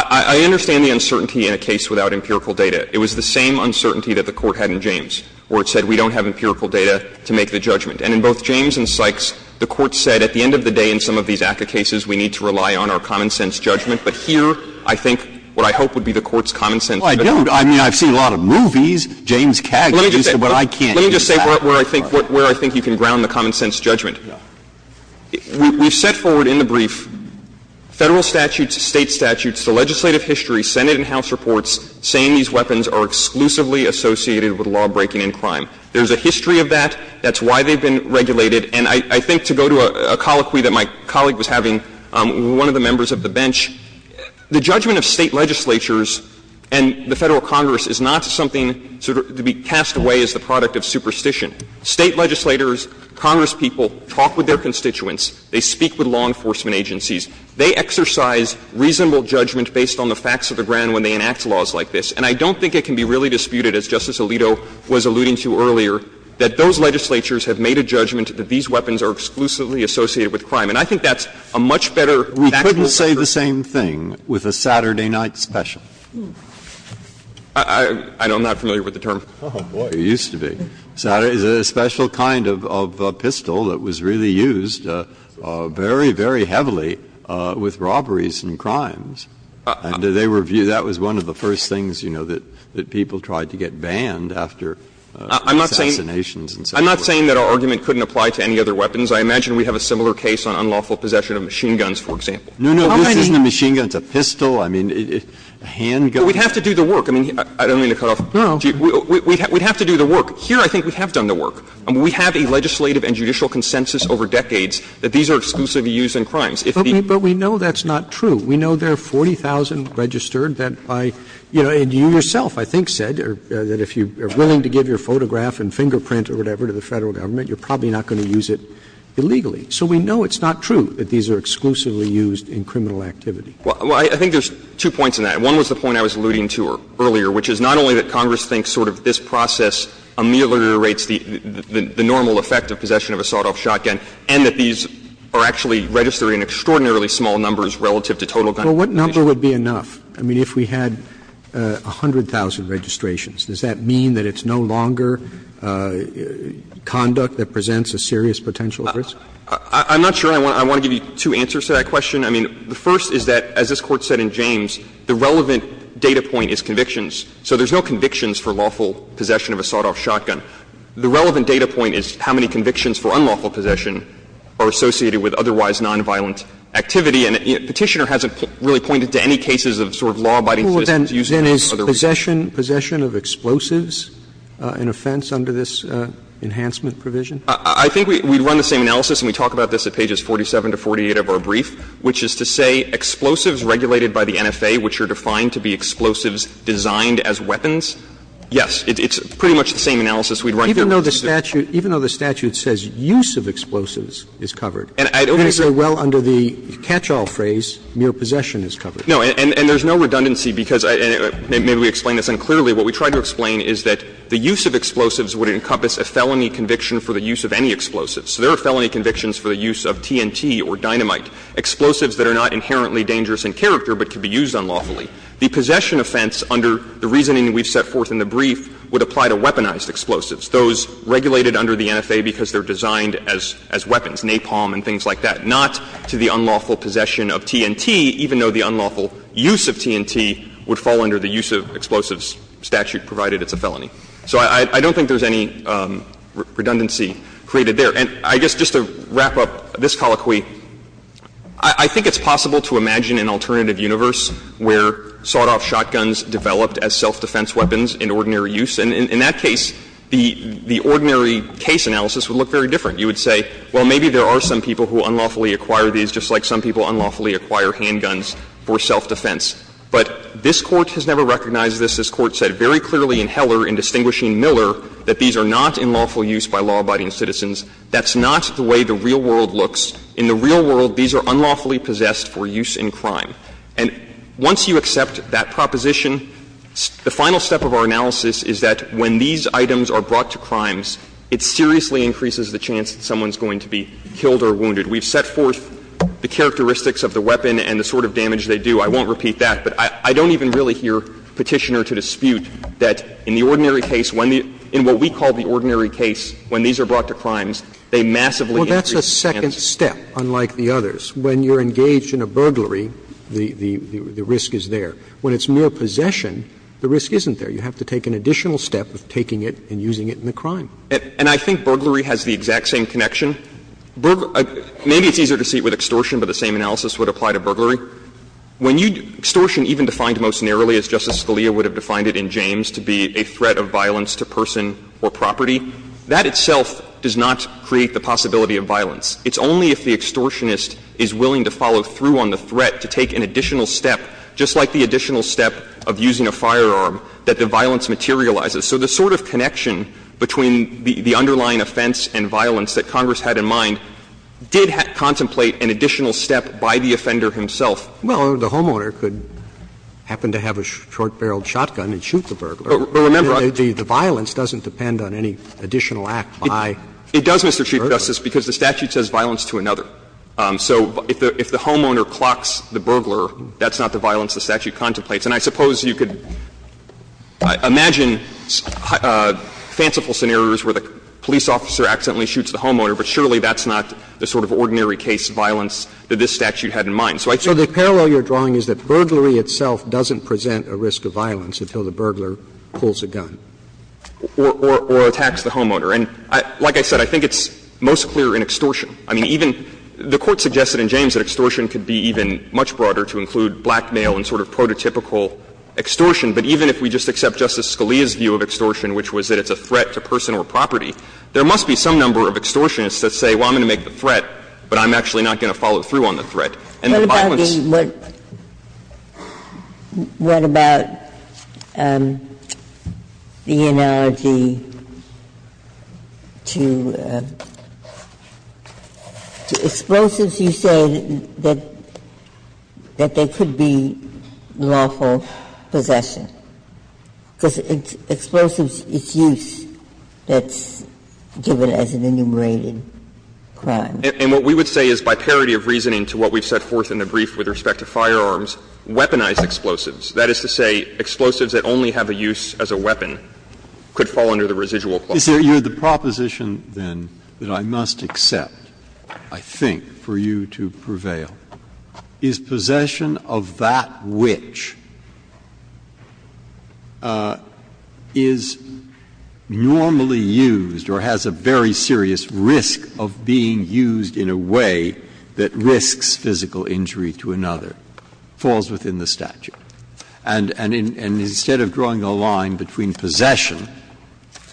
I understand the uncertainty in a case without empirical data. It was the same uncertainty that the Court had in James, where it said we don't have empirical data to make the judgment. And in both James and Sykes, the Court said at the end of the day in some of these ACCA cases, we need to rely on our common-sense judgment. But here, I think what I hope would be the Court's common-sense judgment. Scalia, I mean, I've seen a lot of movies, James Cagney, but I can't use that. Let me just say where I think you can ground the common-sense judgment. We've set forward in the brief Federal statutes, State statutes, the legislative history, Senate and House reports, saying these weapons are exclusively associated with lawbreaking and crime. There's a history of that. That's why they've been regulated. And I think to go to a colloquy that my colleague was having, one of the members of the bench, the judgment of State legislatures and the Federal Congress is not something sort of to be cast away as the product of superstition. State legislators, Congress people, talk with their constituents. They speak with law enforcement agencies. They exercise reasonable judgment based on the facts of the ground when they enact laws like this. And I don't think it can be really disputed, as Justice Alito was alluding to earlier, that those legislatures have made a judgment that these weapons are exclusively associated with crime. And I think that's a much better factual argument. Breyer, why don't you say the same thing with a Saturday night special? I'm not familiar with the term. Oh, boy. It used to be. It was a special kind of pistol that was really used very, very heavily with robberies and crimes. And they were viewed, that was one of the first things, you know, that people tried to get banned after assassinations. I'm not saying that our argument couldn't apply to any other weapons. I imagine we have a similar case on unlawful possession of machine guns, for example. No, no. This isn't a machine gun. It's a pistol. I mean, a handgun. We'd have to do the work. I mean, I don't mean to cut off. No, no. We'd have to do the work. Here, I think we have done the work. I mean, we have a legislative and judicial consensus over decades that these are exclusively used in crimes. But we know that's not true. We know there are 40,000 registered that by, you know, and you yourself, I think, said that if you are willing to give your photograph and fingerprint or whatever to the Federal Government, you're probably not going to use it illegally. So we know it's not true that these are exclusively used in criminal activity. Well, I think there's two points in that. One was the point I was alluding to earlier, which is not only that Congress thinks sort of this process ameliorates the normal effect of possession of a sawed-off shotgun, and that these are actually registered in extraordinarily small numbers relative to total gun possession. Well, what number would be enough? I mean, if we had 100,000 registrations, does that mean that it's no longer conduct that presents a serious potential risk? I'm not sure. I want to give you two answers to that question. I mean, the first is that, as this Court said in James, the relevant data point is convictions. So there's no convictions for lawful possession of a sawed-off shotgun. The relevant data point is how many convictions for unlawful possession are associated with otherwise nonviolent activity. And Petitioner hasn't really pointed to any cases of sort of law-abiding citizens using it in other ways. Robertson is possession of explosives an offense under this enhancement provision? I think we'd run the same analysis, and we talk about this at pages 47 to 48 of our brief, which is to say explosives regulated by the NFA, which are defined to be explosives designed as weapons, yes, it's pretty much the same analysis we'd run here. Even though the statute says use of explosives is covered, you're going to say, well, under the catch-all phrase, mere possession is covered. No, and there's no redundancy, because maybe we explain this unclearly. What we try to explain is that the use of explosives would encompass a felony conviction for the use of any explosives. So there are felony convictions for the use of TNT or dynamite, explosives that are not inherently dangerous in character, but can be used unlawfully. The possession offense under the reasoning we've set forth in the brief would apply to weaponized explosives, those regulated under the NFA because they're designed as weapons, napalm and things like that, not to the unlawful possession of TNT, even though the unlawful use of TNT would fall under the use of explosives statute, provided it's a felony. So I don't think there's any redundancy created there. And I guess just to wrap up this colloquy, I think it's possible to imagine an alternative universe where sought-off shotguns developed as self-defense weapons in ordinary use. And in that case, the ordinary case analysis would look very different. You would say, well, maybe there are some people who unlawfully acquire these, just like some people unlawfully acquire handguns for self-defense. But this Court has never recognized this. This Court said very clearly in Heller, in distinguishing Miller, that these are not in lawful use by law-abiding citizens. That's not the way the real world looks. In the real world, these are unlawfully possessed for use in crime. And once you accept that proposition, the final step of our analysis is that when these items are brought to crimes, it seriously increases the chance that someone is going to be killed or wounded. We've set forth the characteristics of the weapon and the sort of damage they do. I won't repeat that. But I don't even really hear Petitioner to dispute that in the ordinary case, when the — in what we call the ordinary case, when these are brought to crimes, they massively increase the chance. Roberts. Well, that's a second step, unlike the others. When you're engaged in a burglary, the risk is there. When it's mere possession, the risk isn't there. You have to take an additional step of taking it and using it in the crime. And I think burglary has the exact same connection. When you — extortion even defined most narrowly, as Justice Scalia would have defined it in James, to be a threat of violence to person or property, that itself does not create the possibility of violence. It's only if the extortionist is willing to follow through on the threat to take an additional step, just like the additional step of using a firearm, that the violence materializes. And I think it's important to note that the homeowner, as Justice Scalia has had in mind, did contemplate an additional step by the offender himself. Well, the homeowner could happen to have a short-barreled shotgun and shoot the burglar. But remember, I think the violence doesn't depend on any additional act by the burglar. It does, Mr. Chief Justice, because the statute says violence to another. So if the homeowner clocks the burglar, that's not the violence the statute contemplates. And I suppose you could imagine fanciful scenarios where the police officer accidentally shoots the homeowner, but surely that's not the sort of ordinary case of violence that this statute had in mind. So I think the parallel you're drawing is that burglary itself doesn't present a risk of violence until the burglar pulls a gun. Or attacks the homeowner. And like I said, I think it's most clear in extortion. I mean, even the Court suggested in James that extortion could be even much broader to include blackmail and sort of prototypical extortion. But even if we just accept Justice Scalia's view of extortion, which was that it's a threat to person or property, there must be some number of extortionists that say, well, I'm going to make the threat, but I'm actually not going to follow through on the threat. And the violence of the burglar is not a threat to person or property. Ginsburg's view is that there could be lawful possession, because it's explosives, it's use that's given as an enumerated crime. And what we would say is, by parity of reasoning to what we've set forth in the brief with respect to firearms, weaponized explosives. That is to say, explosives that only have a use as a weapon could fall under the residual clause. Breyer, you're the proposition, then, that I must accept, I think, for you to prevail. Is possession of that which is normally used or has a very serious risk of being used in a way that risks physical injury to another, falls within the statute? And instead of drawing a line between possession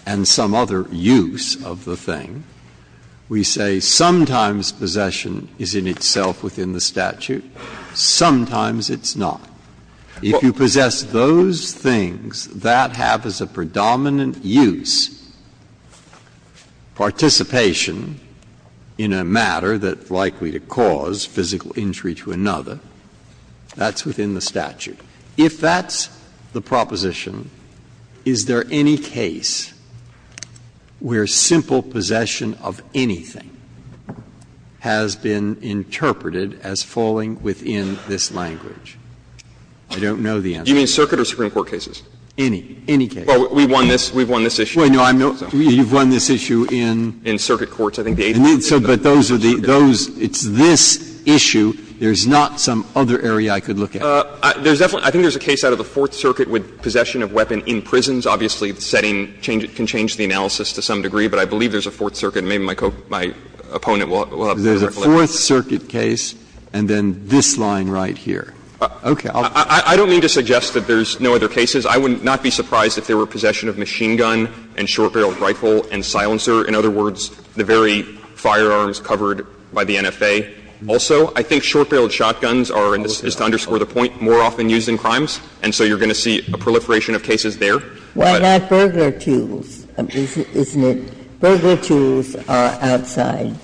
and some other use of the thing, we say sometimes possession is in itself within the statute, sometimes it's not. If you possess those things, that have as a predominant use participation in a matter that's likely to cause physical injury to another, that's within the statute. If that's the proposition, is there any case where simple possession of anything has been interpreted as falling within this language? I don't know the answer. You mean circuit or Supreme Court cases? Any. Any case. Well, we've won this. We've won this issue. Well, no, I'm not. You've won this issue in? In circuit courts. I think the eighth one. But those are the those – it's this issue. There's not some other area I could look at. I think there's a case out of the Fourth Circuit with possession of weapon in prisons. Obviously, the setting can change the analysis to some degree, but I believe there's a Fourth Circuit, and maybe my opponent will have a direct look at it. There's a Fourth Circuit case, and then this line right here. Okay. I don't mean to suggest that there's no other cases. I would not be surprised if there were possession of machine gun and short-barreled rifle and silencer, in other words, the very firearms covered by the NFA. Also, I think short-barreled shotguns are, and this is to underscore the point, more often used in crimes, and so you're going to see a proliferation of cases there. But at that point, there are tools, isn't it? Burglar tools are outside,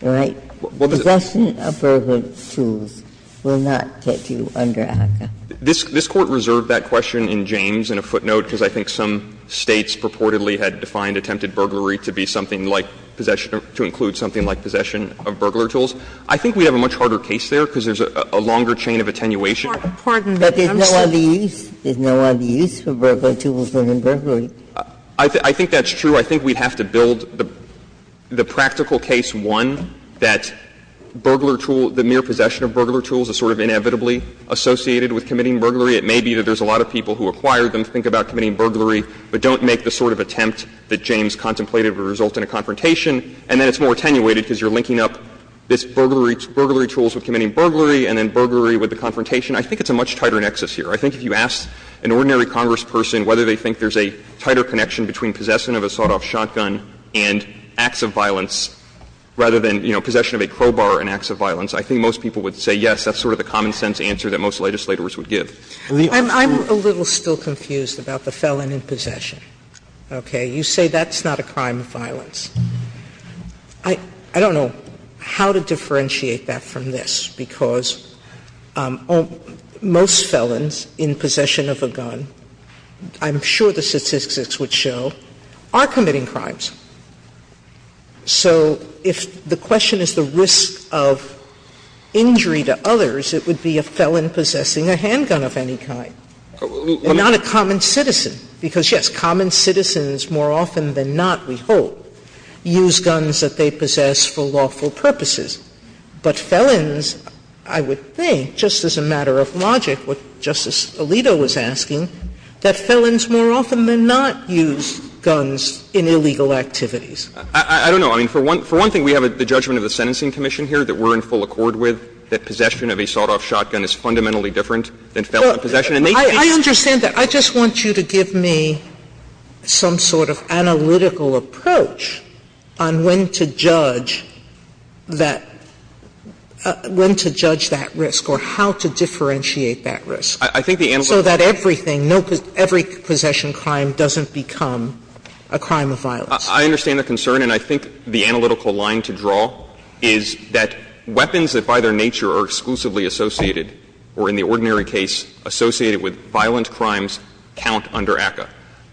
right? Possession of burglar tools will not get you under ACCA. This Court reserved that question in James in a footnote, because I think some States purportedly had defined attempted burglary to be something like possession of, to include something like possession of burglar tools. I think we have a much harder case there, because there's a longer chain of attenuation. Ginsburg. But there's no other use. There's no other use for burglar tools than in burglary. I think that's true. I think we'd have to build the practical case, one, that burglar tool, the mere possession of burglar tools is sort of inevitably associated with committing burglary. It may be that there's a lot of people who acquired them to think about committing burglary, but don't make the sort of attempt that James contemplated would result in a confrontation, and then it's more attenuated because you're linking up this burglary tools with committing burglary and then burglary with the confrontation. I think it's a much tighter nexus here. I think if you asked an ordinary congressperson whether they think there's a tighter connection between possession of a sawed-off shotgun and acts of violence rather than, you know, possession of a crowbar and acts of violence, I think most people would say yes, that's sort of the common-sense answer that most legislators Sotomayor. Sotomayor. Sotomayor. Sotomayor. Sotomayor. Sotomayor. Sotomayor. Sotomayor. Sotomayor. Sotomayor. Sotomayor. Sotomayor. Sotomayor. I don't know how to differentiate that from this, because most felons in possession of a gun, I'm sure the statistics would show, are committing crimes. So if the question is the risk of injury to others, it would be a felon possessing a handgun of any kind, and not a common citizen, because, yes, common citizens more often than not, we hope, use guns that they possess for lawful purposes. But felons, I would think, just as a matter of logic, what Justice Alito was asking, that felons more often than not use guns in illegal activities. I don't know. I mean, for one thing, we have the judgment of the Sentencing Commission here that we're in full accord with, that possession of a sawed-off shotgun is fundamentally different than felon possession. Sotomayor, I understand that. I just want you to give me some sort of analytical approach on when to judge that risk, or how to differentiate that risk, so that everything, every possession crime doesn't become a crime of violence. I understand the concern. And I think the analytical line to draw is that weapons that, by their nature, are exclusively associated or, in the ordinary case, associated with violent crimes count under ACCA.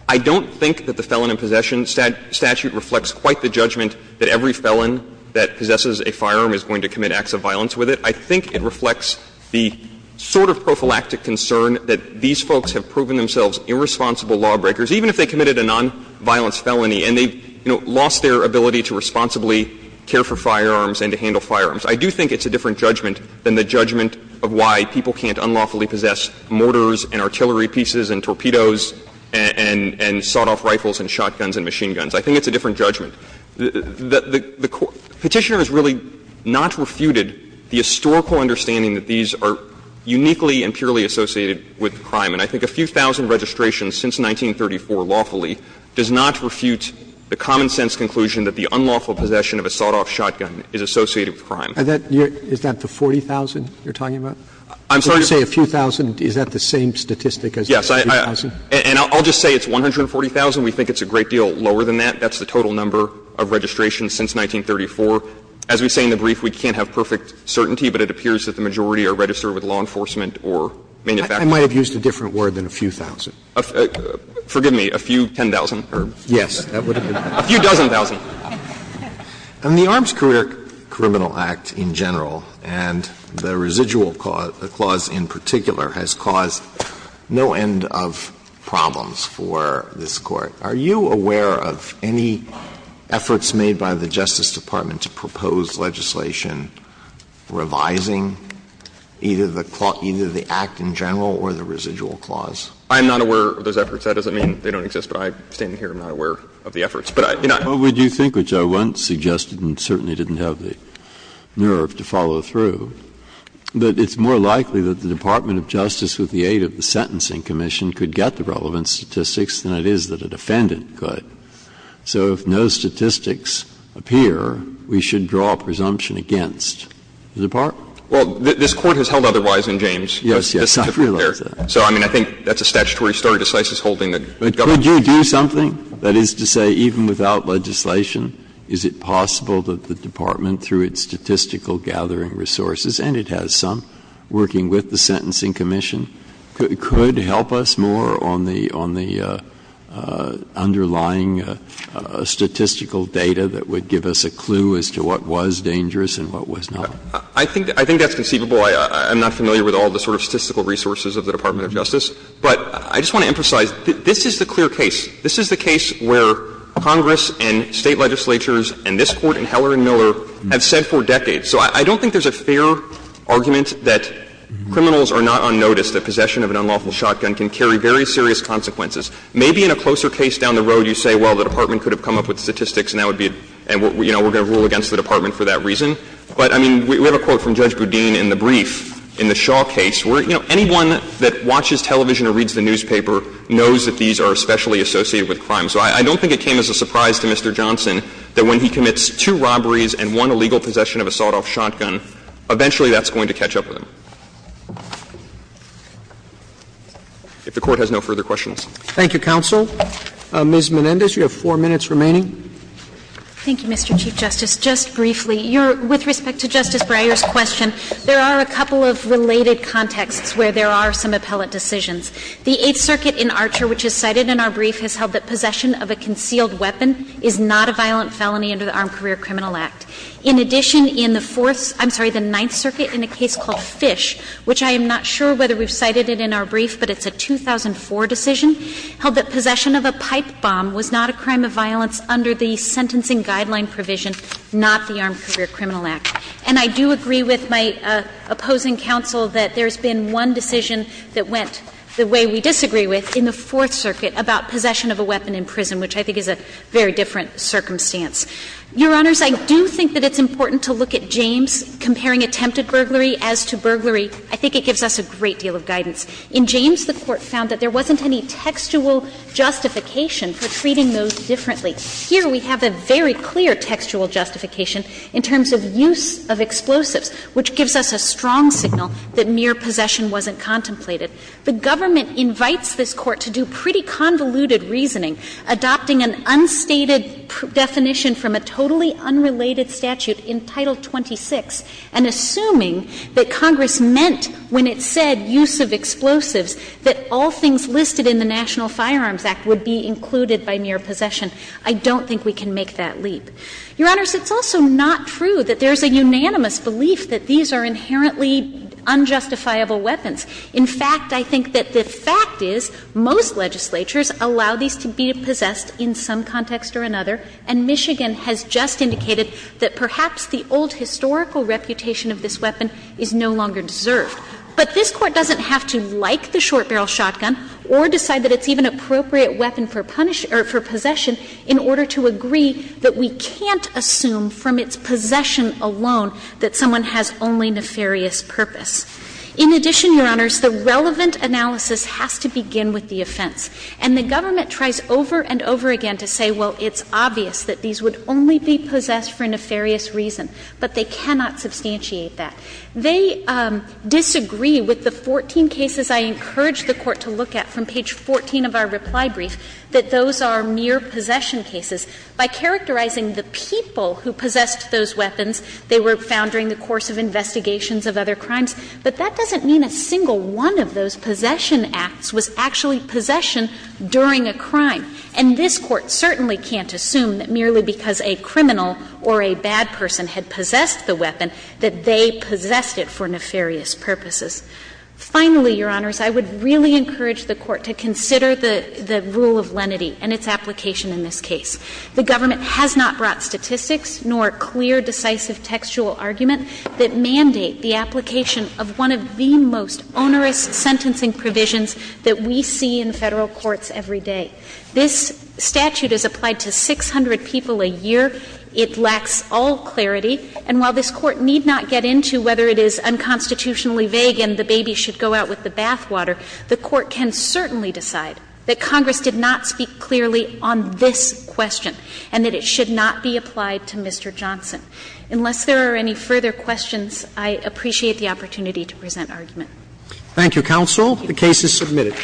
I don't think that the Felon in Possession Statute reflects quite the judgment that every felon that possesses a firearm is going to commit acts of violence with it. I think it reflects the sort of prophylactic concern that these folks have proven themselves irresponsible lawbreakers, even if they committed a nonviolence felony and they, you know, lost their ability to responsibly care for firearms and to handle firearms. I do think it's a different judgment than the judgment of why people can't unlawfully possess mortars and artillery pieces and torpedoes and sawed-off rifles and shotguns and machine guns. I think it's a different judgment. The Petitioner has really not refuted the historical understanding that these are uniquely and purely associated with crime. And I think a few thousand registrations since 1934 lawfully does not refute the common-sense conclusion that the unlawful possession of a sawed-off shotgun is associated with crime. Roberts. Is that the 40,000 you're talking about? I'm sorry to say a few thousand, is that the same statistic as 40,000? And I'll just say it's 140,000. We think it's a great deal lower than that. That's the total number of registrations since 1934. As we say in the brief, we can't have perfect certainty, but it appears that the majority are registered with law enforcement or manufacturers. I might have used a different word than a few thousand. Forgive me, a few ten thousand or a few dozen thousand. And the Arms Career Criminal Act in general and the residual clause in particular has caused no end of problems for this Court. Are you aware of any efforts made by the Justice Department to propose legislation revising either the act in general or the residual clause? I'm not aware of those efforts. That doesn't mean they don't exist, but I, standing here, am not aware of the efforts. But I, you know, I'm not aware of those efforts. Breyer. Well, would you think, which I once suggested and certainly didn't have the nerve to follow through, that it's more likely that the Department of Justice with the aid of the Sentencing Commission could get the relevant statistics than it is that a defendant could. So if no statistics appear, we should draw a presumption against the department? Well, this Court has held otherwise in James. Yes, yes. I realize that. So, I mean, I think that's a statutory story, decisive holding that the government could do something. That is to say, even without legislation, is it possible that the department, through its statistical gathering resources, and it has some, working with the Sentencing Commission, could help us more on the underlying statistical data that would give us a clue as to what was dangerous and what was not? I think that's conceivable. I'm not familiar with all the sort of statistical resources of the Department of Justice. But I just want to emphasize, this is the clear case. This is the case where Congress and State legislatures and this Court and Heller and Miller have said for decades. So I don't think there's a fair argument that criminals are not unnoticed, that possession of an unlawful shotgun can carry very serious consequences. Maybe in a closer case down the road, you say, well, the department could have come up with statistics and that would be, you know, we're going to rule against the department for that reason. But, I mean, we have a quote from Judge Boudin in the brief, in the Shaw case, where anyone that watches television or reads the newspaper knows that these are especially associated with crime. So I don't think it came as a surprise to Mr. Johnson that when he commits two robberies and one illegal possession of a sawed-off shotgun, eventually that's going to catch up with him. If the Court has no further questions. Roberts. Thank you, counsel. Ms. Menendez, you have four minutes remaining. Thank you, Mr. Chief Justice. Just briefly, with respect to Justice Breyer's question, there are a couple of related contexts where there are some appellate decisions. The Eighth Circuit in Archer, which is cited in our brief, has held that possession of a concealed weapon is not a violent felony under the Armed Career Criminal Act. In addition, in the Fourth — I'm sorry, the Ninth Circuit in a case called Fish, which I am not sure whether we've cited it in our brief, but it's a 2004 decision, held that possession of a pipe bomb was not a crime of violence under the sentencing guideline provision, not the Armed Career Criminal Act. And I do agree with my opposing counsel that there's been one decision that went the which I think is a very different circumstance. Your Honors, I do think that it's important to look at James comparing attempted burglary as to burglary. I think it gives us a great deal of guidance. In James, the Court found that there wasn't any textual justification for treating those differently. Here, we have a very clear textual justification in terms of use of explosives, which gives us a strong signal that mere possession wasn't contemplated. The government invites this Court to do pretty convoluted reasoning, adopting an unstated definition from a totally unrelated statute in Title 26, and assuming that Congress meant when it said use of explosives that all things listed in the National Firearms Act would be included by mere possession. I don't think we can make that leap. Your Honors, it's also not true that there's a unanimous belief that these are inherently unjustifiable weapons. In fact, I think that the fact is most legislatures allow these to be possessed in some context or another, and Michigan has just indicated that perhaps the old historical reputation of this weapon is no longer deserved. But this Court doesn't have to like the short barrel shotgun or decide that it's even an appropriate weapon for punish or for possession in order to agree that we can't assume from its possession alone that someone has only nefarious purpose. In addition, Your Honors, the relevant analysis has to begin with the offense. And the government tries over and over again to say, well, it's obvious that these would only be possessed for nefarious reason, but they cannot substantiate that. They disagree with the 14 cases I encouraged the Court to look at from page 14 of our reply brief, that those are mere possession cases. By characterizing the people who possessed those weapons, they were found during the course of investigations of other crimes, but that doesn't mean a single one of those possession acts was actually possession during a crime. And this Court certainly can't assume that merely because a criminal or a bad person had possessed the weapon that they possessed it for nefarious purposes. Finally, Your Honors, I would really encourage the Court to consider the rule of lenity and its application in this case. The government has not brought statistics nor clear, decisive textual argument that mandate the application of one of the most onerous sentencing provisions that we see in Federal courts every day. This statute is applied to 600 people a year. It lacks all clarity. And while this Court need not get into whether it is unconstitutionally vague and the baby should go out with the bathwater, the Court can certainly decide that Congress did not speak clearly on this question and that it should not be applied to Mr. Johnson. Unless there are any further questions, I appreciate the opportunity to present argument. Thank you, counsel. The case is submitted.